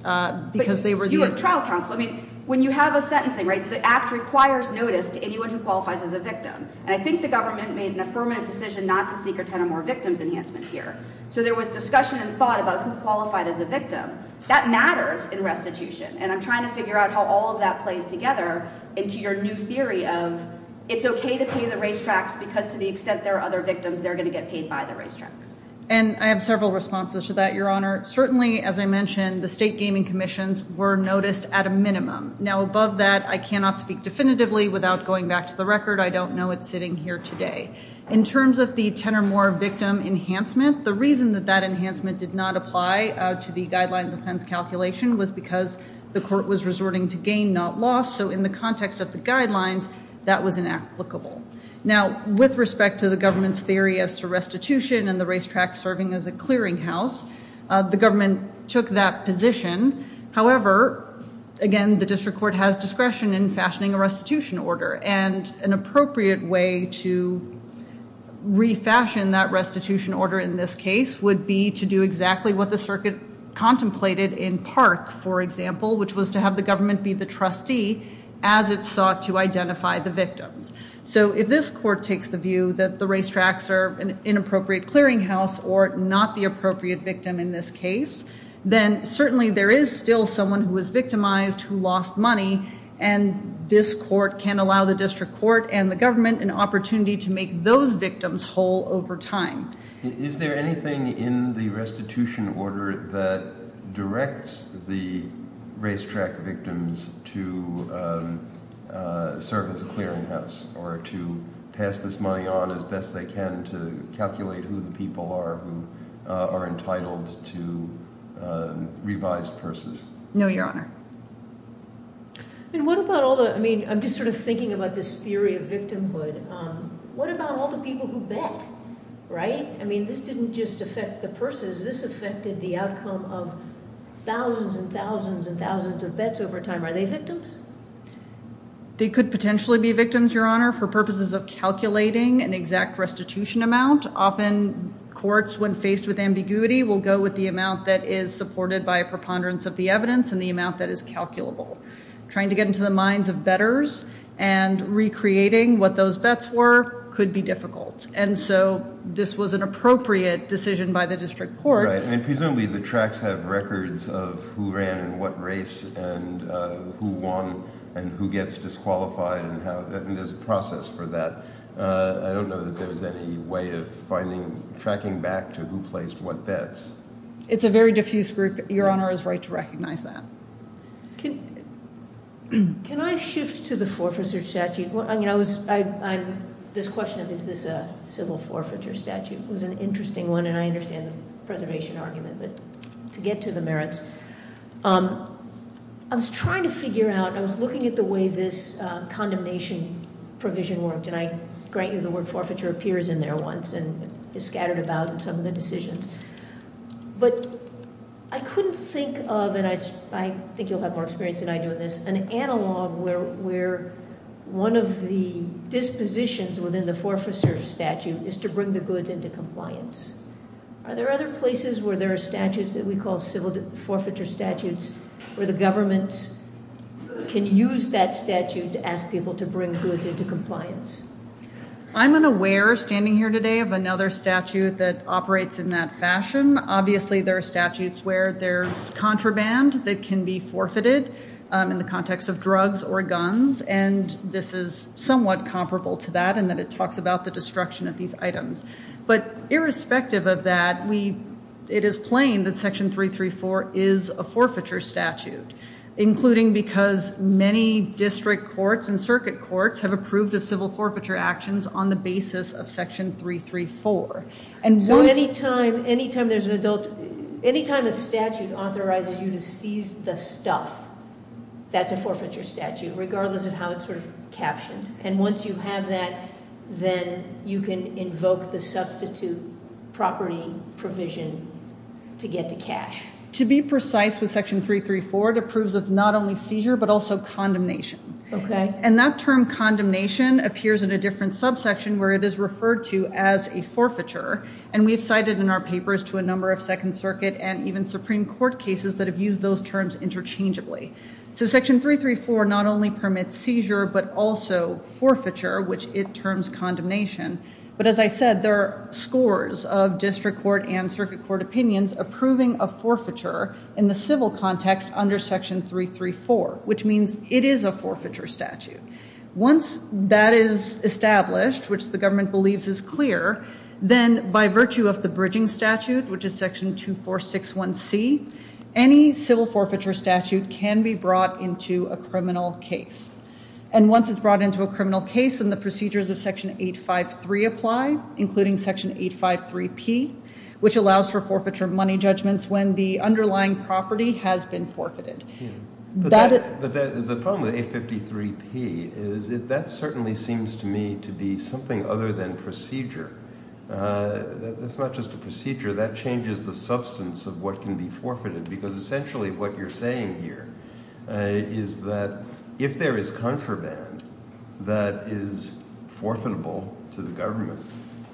because they were the— You have trial counsel. I mean, when you have a sentencing, right, the act requires notice to anyone who qualifies as a victim. And I think the government made an affirmative decision not to seek or tender more victims enhancement here. So there was discussion and thought about who qualified as a victim. That matters in restitution, and I'm trying to figure out how all of that plays together into your new theory of it's okay to pay the racetracks because to the extent there are other victims, they're going to get paid by the racetracks. And I have several responses to that, Your Honor. Certainly, as I mentioned, the state gaming commissions were noticed at a minimum. Now, above that, I cannot speak definitively without going back to the record. I don't know it sitting here today. In terms of the tender more victim enhancement, the reason that that enhancement did not apply to the guidelines offense calculation was because the court was resorting to gain, not loss. So in the context of the guidelines, that was inapplicable. Now, with respect to the government's theory as to restitution and the racetracks serving as a clearinghouse, the government took that position. However, again, the district court has discretion in fashioning a restitution order. And an appropriate way to refashion that restitution order in this case would be to do exactly what the circuit contemplated in Park, for example, which was to have the government be the trustee as it sought to identify the victims. So if this court takes the view that the racetracks are an inappropriate clearinghouse or not the appropriate victim in this case, then certainly there is still someone who was victimized who lost money, and this court can allow the district court and the government an opportunity to make those victims whole over time. Is there anything in the restitution order that directs the racetrack victims to serve as a clearinghouse or to pass this money on as best they can to calculate who the people are who are entitled to revised purses? No, Your Honor. And what about all the, I mean, I'm just sort of thinking about this theory of victimhood. What about all the people who bet, right? I mean, this didn't just affect the purses. This affected the outcome of thousands and thousands and thousands of bets over time. Are they victims? They could potentially be victims, Your Honor, for purposes of calculating an exact restitution amount. Often courts, when faced with ambiguity, will go with the amount that is supported by a preponderance of the evidence and the amount that is calculable. Trying to get into the minds of bettors and recreating what those bets were could be difficult, and so this was an appropriate decision by the district court. Right, and presumably the tracks have records of who ran in what race and who won and who gets disqualified, and there's a process for that. I don't know that there was any way of finding, tracking back to who placed what bets. It's a very diffuse group. Your Honor is right to recognize that. Can I shift to the forfeiture statute? This question of is this a civil forfeiture statute was an interesting one, and I understand the preservation argument, but to get to the merits, I was trying to figure out, I was looking at the way this condemnation provision worked, and I grant you the word forfeiture appears in there once and is scattered about in some of the decisions, but I couldn't think of, and I think you'll have more experience than I do in this, an analog where one of the dispositions within the forfeiture statute is to bring the goods into compliance. Are there other places where there are statutes that we call civil forfeiture statutes where the government can use that statute to ask people to bring goods into compliance? I'm unaware, standing here today, of another statute that operates in that fashion. Obviously, there are statutes where there's contraband that can be forfeited in the context of drugs or guns, and this is somewhat comparable to that in that it talks about the destruction of these items. But irrespective of that, it is plain that Section 334 is a forfeiture statute, including because many district courts and circuit courts have approved of civil forfeiture actions on the basis of Section 334. Any time a statute authorizes you to seize the stuff, that's a forfeiture statute, regardless of how it's sort of captioned. And once you have that, then you can invoke the substitute property provision to get to cash. To be precise with Section 334, it approves of not only seizure but also condemnation. And that term condemnation appears in a different subsection where it is referred to as a forfeiture, and we've cited in our papers to a number of Second Circuit and even Supreme Court cases that have used those terms interchangeably. So Section 334 not only permits seizure but also forfeiture, which it terms condemnation, but as I said, there are scores of district court and circuit court opinions approving a forfeiture in the civil context under Section 334, which means it is a forfeiture statute. Once that is established, which the government believes is clear, then by virtue of the bridging statute, which is Section 2461C, any civil forfeiture statute can be brought into a criminal case. And once it's brought into a criminal case, then the procedures of Section 853 apply, including Section 853P, which allows for forfeiture money judgments when the underlying property has been forfeited. The problem with 853P is that that certainly seems to me to be something other than procedure. That's not just a procedure. That changes the substance of what can be forfeited, because essentially what you're saying here is that if there is contraband that is forfeitable to the government,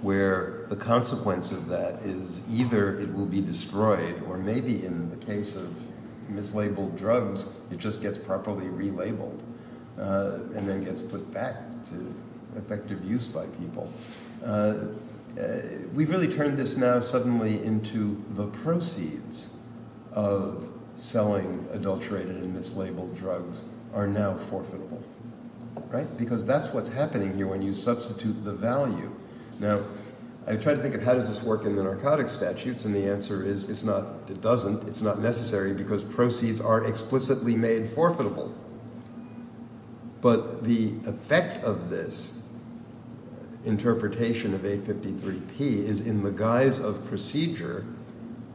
where the consequence of that is either it will be destroyed or maybe in the case of mislabeled drugs, it just gets properly relabeled and then gets put back to effective use by people. We've really turned this now suddenly into the proceeds of selling adulterated and mislabeled drugs are now forfeitable, right? Because that's what's happening here when you substitute the value. Now, I try to think of how does this work in the narcotics statutes, and the answer is it's not – it doesn't. It's not necessary because proceeds are explicitly made forfeitable. But the effect of this interpretation of 853P is in the guise of procedure.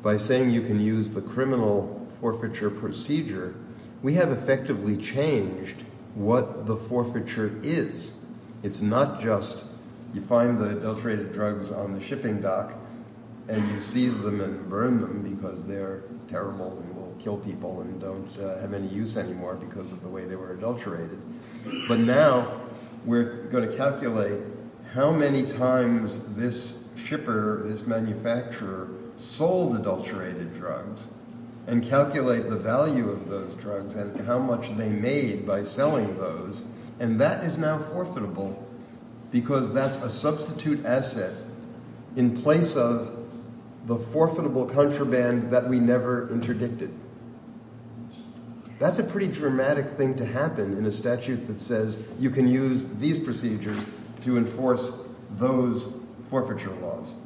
By saying you can use the criminal forfeiture procedure, we have effectively changed what the forfeiture is. It's not just you find the adulterated drugs on the shipping dock and you seize them and burn them because they're terrible and will kill people and don't have any use anymore because of the way they were adulterated. But now we're going to calculate how many times this shipper, this manufacturer sold adulterated drugs and calculate the value of those drugs and how much they made by selling those. And that is now forfeitable because that's a substitute asset in place of the forfeitable contraband that we never interdicted. That's a pretty dramatic thing to happen in a statute that says you can use these procedures to enforce those forfeiture laws.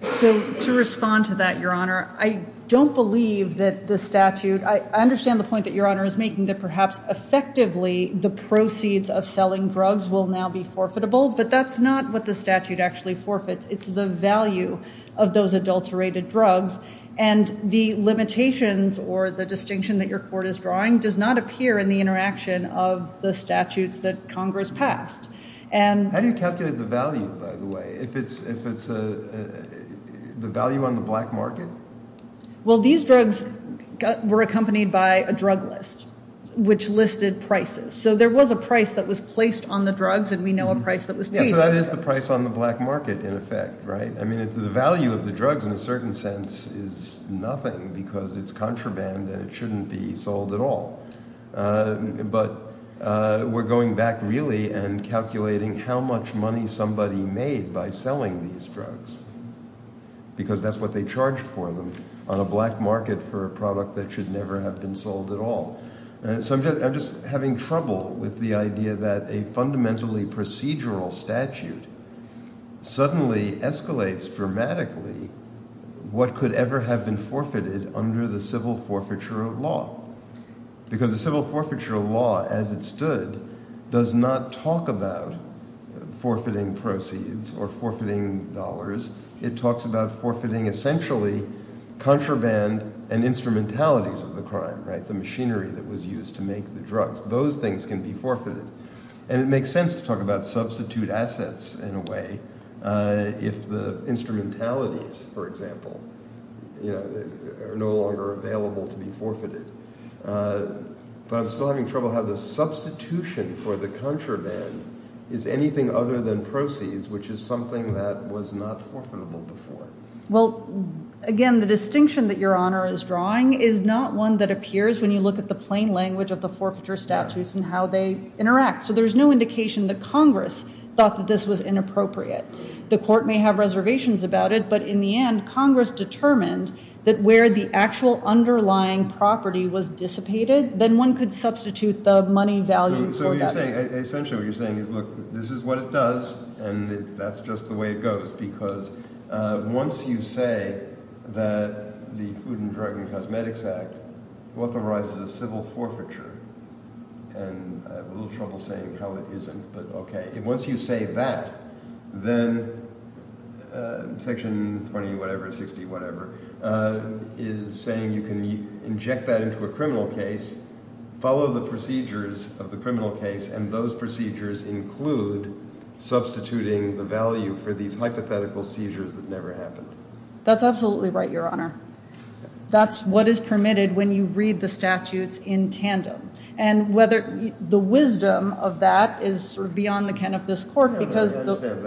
So to respond to that, Your Honor, I don't believe that the statute – I understand the point that Your Honor is making that perhaps effectively the proceeds of selling drugs will now be forfeitable. But that's not what the statute actually forfeits. It's the value of those adulterated drugs. And the limitations or the distinction that your court is drawing does not appear in the interaction of the statutes that Congress passed. How do you calculate the value, by the way, if it's the value on the black market? Well, these drugs were accompanied by a drug list which listed prices. So there was a price that was placed on the drugs and we know a price that was paid for the drugs. So that is the price on the black market in effect, right? I mean the value of the drugs in a certain sense is nothing because it's contraband and it shouldn't be sold at all. But we're going back really and calculating how much money somebody made by selling these drugs because that's what they charged for them on a black market for a product that should never have been sold at all. So I'm just having trouble with the idea that a fundamentally procedural statute suddenly escalates dramatically what could ever have been forfeited under the civil forfeiture law. Because the civil forfeiture law as it stood does not talk about forfeiting proceeds or forfeiting dollars. It talks about forfeiting essentially contraband and instrumentalities of the crime, the machinery that was used to make the drugs. Those things can be forfeited. And it makes sense to talk about substitute assets in a way if the instrumentalities, for example, are no longer available to be forfeited. But I'm still having trouble how the substitution for the contraband is anything other than proceeds which is something that was not forfeitable before. Well, again, the distinction that Your Honor is drawing is not one that appears when you look at the plain language of the forfeiture statutes and how they interact. So there's no indication that Congress thought that this was inappropriate. The court may have reservations about it, but in the end, Congress determined that where the actual underlying property was dissipated, then one could substitute the money value for that. Essentially what you're saying is, look, this is what it does, and that's just the way it goes. Because once you say that the Food and Drug and Cosmetics Act authorizes a civil forfeiture – and I have a little trouble saying how it isn't, but okay – once you say that, then Section 20-whatever, 60-whatever, is saying you can inject that into a criminal case, follow the procedures of the criminal case, and those procedures include substituting the value for these hypothetical seizures that never happened. That's absolutely right, Your Honor. That's what is permitted when you read the statutes in tandem. And whether – the wisdom of that is beyond the ken of this court because – I don't understand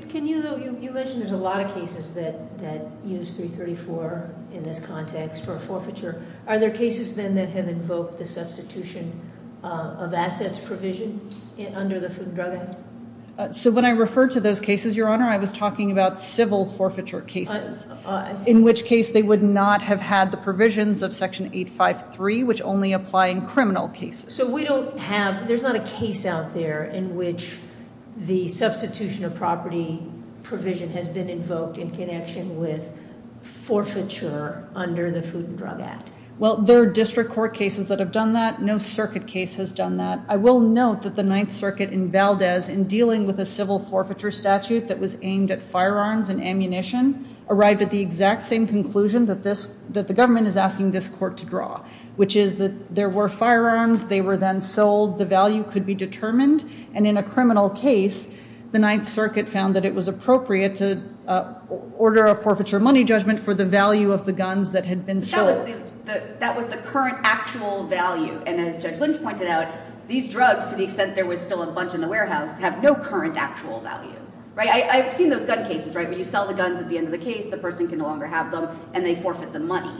that. Can you – you mentioned there's a lot of cases that use 334 in this context for a forfeiture. Are there cases, then, that have invoked the substitution of assets provision under the Food and Drug Act? So when I referred to those cases, Your Honor, I was talking about civil forfeiture cases. In which case they would not have had the provisions of Section 853, which only apply in criminal cases. So we don't have – there's not a case out there in which the substitution of property provision has been invoked in connection with forfeiture under the Food and Drug Act. Well, there are district court cases that have done that. No circuit case has done that. I will note that the Ninth Circuit in Valdez, in dealing with a civil forfeiture statute that was aimed at firearms and ammunition, arrived at the exact same conclusion that this – that the government is asking this court to draw. Which is that there were firearms. They were then sold. The value could be determined. And in a criminal case, the Ninth Circuit found that it was appropriate to order a forfeiture money judgment for the value of the guns that had been sold. That was the current actual value. And as Judge Lynch pointed out, these drugs, to the extent there was still a bunch in the warehouse, have no current actual value. Right? I've seen those gun cases, right? Where you sell the guns at the end of the case, the person can no longer have them, and they forfeit the money.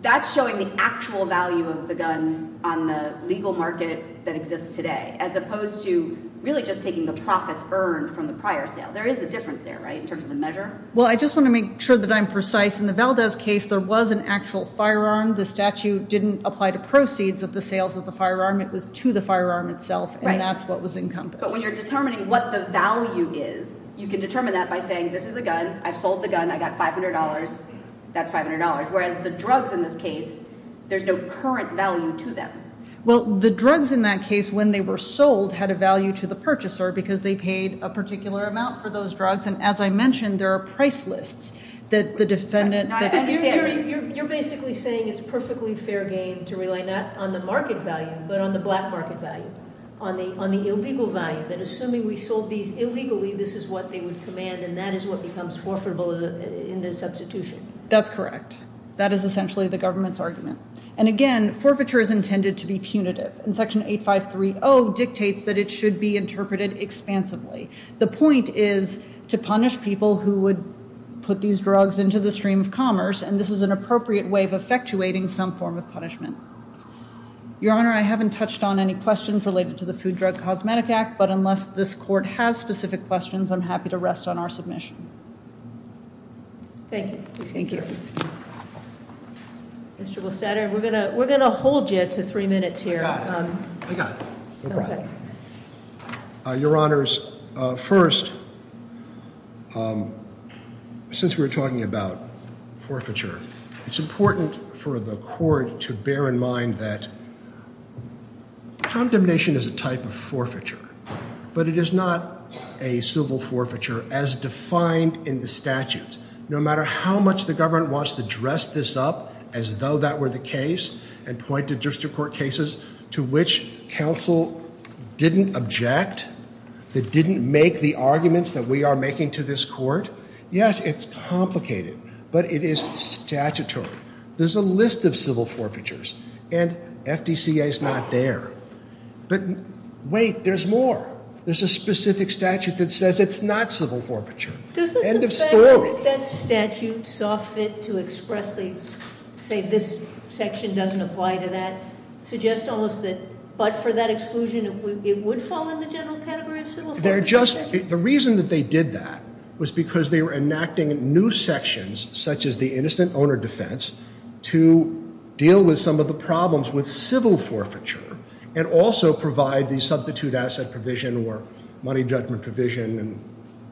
That's showing the actual value of the gun on the legal market that exists today. As opposed to really just taking the profits earned from the prior sale. There is a difference there, right, in terms of the measure? Well, I just want to make sure that I'm precise. In the Valdez case, there was an actual firearm. The statute didn't apply to proceeds of the sales of the firearm. It was to the firearm itself, and that's what was encompassed. But when you're determining what the value is, you can determine that by saying, this is a gun. I've sold the gun. I got $500. That's $500. Whereas the drugs in this case, there's no current value to them. Well, the drugs in that case, when they were sold, had a value to the purchaser because they paid a particular amount for those drugs. And as I mentioned, there are price lists that the defendant – to rely not on the market value but on the black market value, on the illegal value, that assuming we sold these illegally, this is what they would command, and that is what becomes forfeitable in the substitution. That's correct. That is essentially the government's argument. And again, forfeiture is intended to be punitive, and Section 8530 dictates that it should be interpreted expansively. The point is to punish people who would put these drugs into the stream of commerce, and this is an appropriate way of effectuating some form of punishment. Your Honor, I haven't touched on any questions related to the Food, Drug, and Cosmetic Act, but unless this court has specific questions, I'm happy to rest on our submission. Thank you. Thank you. Mr. Golstader, we're going to hold you to three minutes here. I got it. I got it. No problem. Your Honors, first, since we're talking about forfeiture, it's important for the court to bear in mind that condemnation is a type of forfeiture, but it is not a civil forfeiture as defined in the statutes. No matter how much the government wants to dress this up as though that were the case and point to district court cases to which counsel didn't object, that didn't make the arguments that we are making to this court, yes, it's complicated, but it is statutory. There's a list of civil forfeitures, and FDCA is not there. But wait, there's more. There's a specific statute that says it's not civil forfeiture. End of story. That statute saw fit to expressly say this section doesn't apply to that, suggests almost that but for that exclusion it would fall in the general category of civil forfeiture. The reason that they did that was because they were enacting new sections, such as the innocent owner defense, to deal with some of the problems with civil forfeiture and also provide the substitute asset provision or money judgment provision and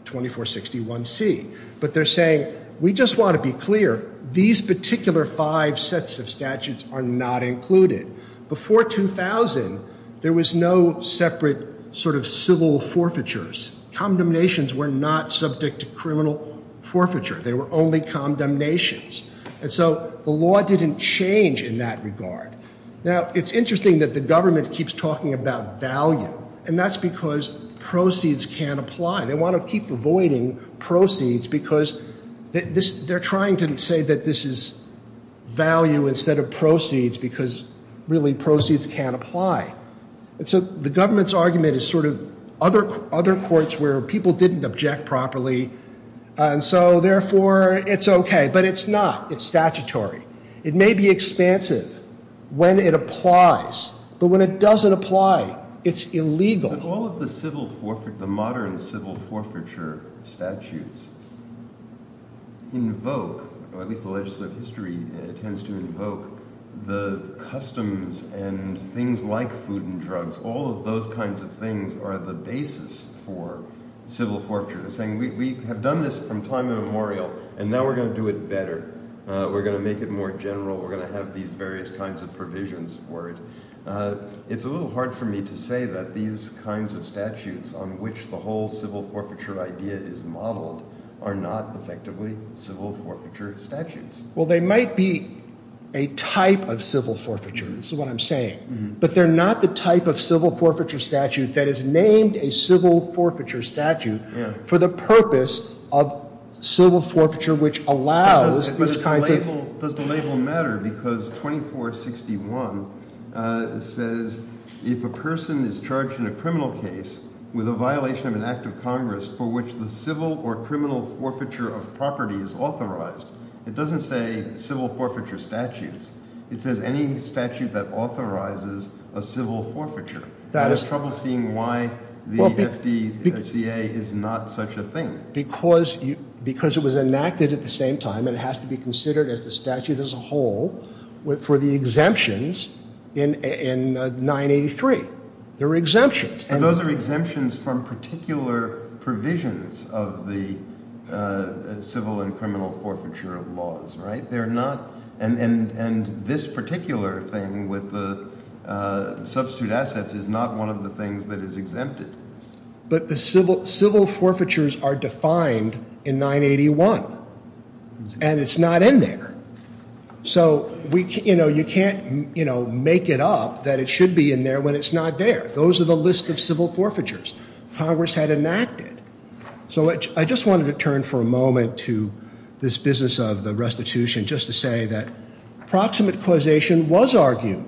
2461C. But they're saying, we just want to be clear, these particular five sets of statutes are not included. Before 2000, there was no separate sort of civil forfeitures. Condemnations were not subject to criminal forfeiture. They were only condemnations. And so the law didn't change in that regard. Now, it's interesting that the government keeps talking about value, and that's because proceeds can't apply. They want to keep avoiding proceeds because they're trying to say that this is value instead of proceeds because really proceeds can't apply. And so the government's argument is sort of other courts where people didn't object properly, and so therefore it's okay. But it's not. It's statutory. It may be expansive when it applies, but when it doesn't apply, it's illegal. All of the modern civil forfeiture statutes invoke, or at least the legislative history tends to invoke, the customs and things like food and drugs, all of those kinds of things are the basis for civil forfeiture. They're saying, we have done this from time immemorial, and now we're going to do it better. We're going to make it more general. We're going to have these various kinds of provisions for it. It's a little hard for me to say that these kinds of statutes on which the whole civil forfeiture idea is modeled are not effectively civil forfeiture statutes. Well, they might be a type of civil forfeiture. This is what I'm saying. But they're not the type of civil forfeiture statute that is named a civil forfeiture statute for the purpose of civil forfeiture which allows these kinds of things. Does the label matter? Because 2461 says, if a person is charged in a criminal case with a violation of an act of Congress for which the civil or criminal forfeiture of property is authorized, it doesn't say civil forfeiture statutes. It says any statute that authorizes a civil forfeiture. I have trouble seeing why the FDCA is not such a thing. Because it was enacted at the same time and it has to be considered as the statute as a whole for the exemptions in 983. There are exemptions. And those are exemptions from particular provisions of the civil and criminal forfeiture laws, right? They're not – and this particular thing with the substitute assets is not one of the things that is exempted. But the civil forfeitures are defined in 981. And it's not in there. So you can't make it up that it should be in there when it's not there. Those are the list of civil forfeitures Congress had enacted. So I just wanted to turn for a moment to this business of the restitution just to say that proximate causation was argued.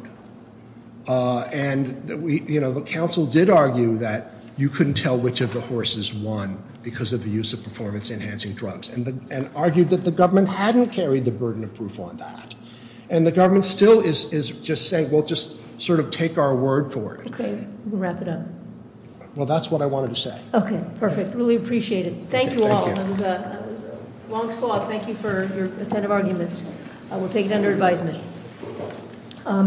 And, you know, the council did argue that you couldn't tell which of the horses won because of the use of performance-enhancing drugs. And argued that the government hadn't carried the burden of proof on that. And the government still is just saying, well, just sort of take our word for it. Okay, we'll wrap it up. Well, that's what I wanted to say. Okay, perfect. Really appreciate it. Thank you all. It was a long slog. Thank you for your attentive arguments. We'll take it under advisement.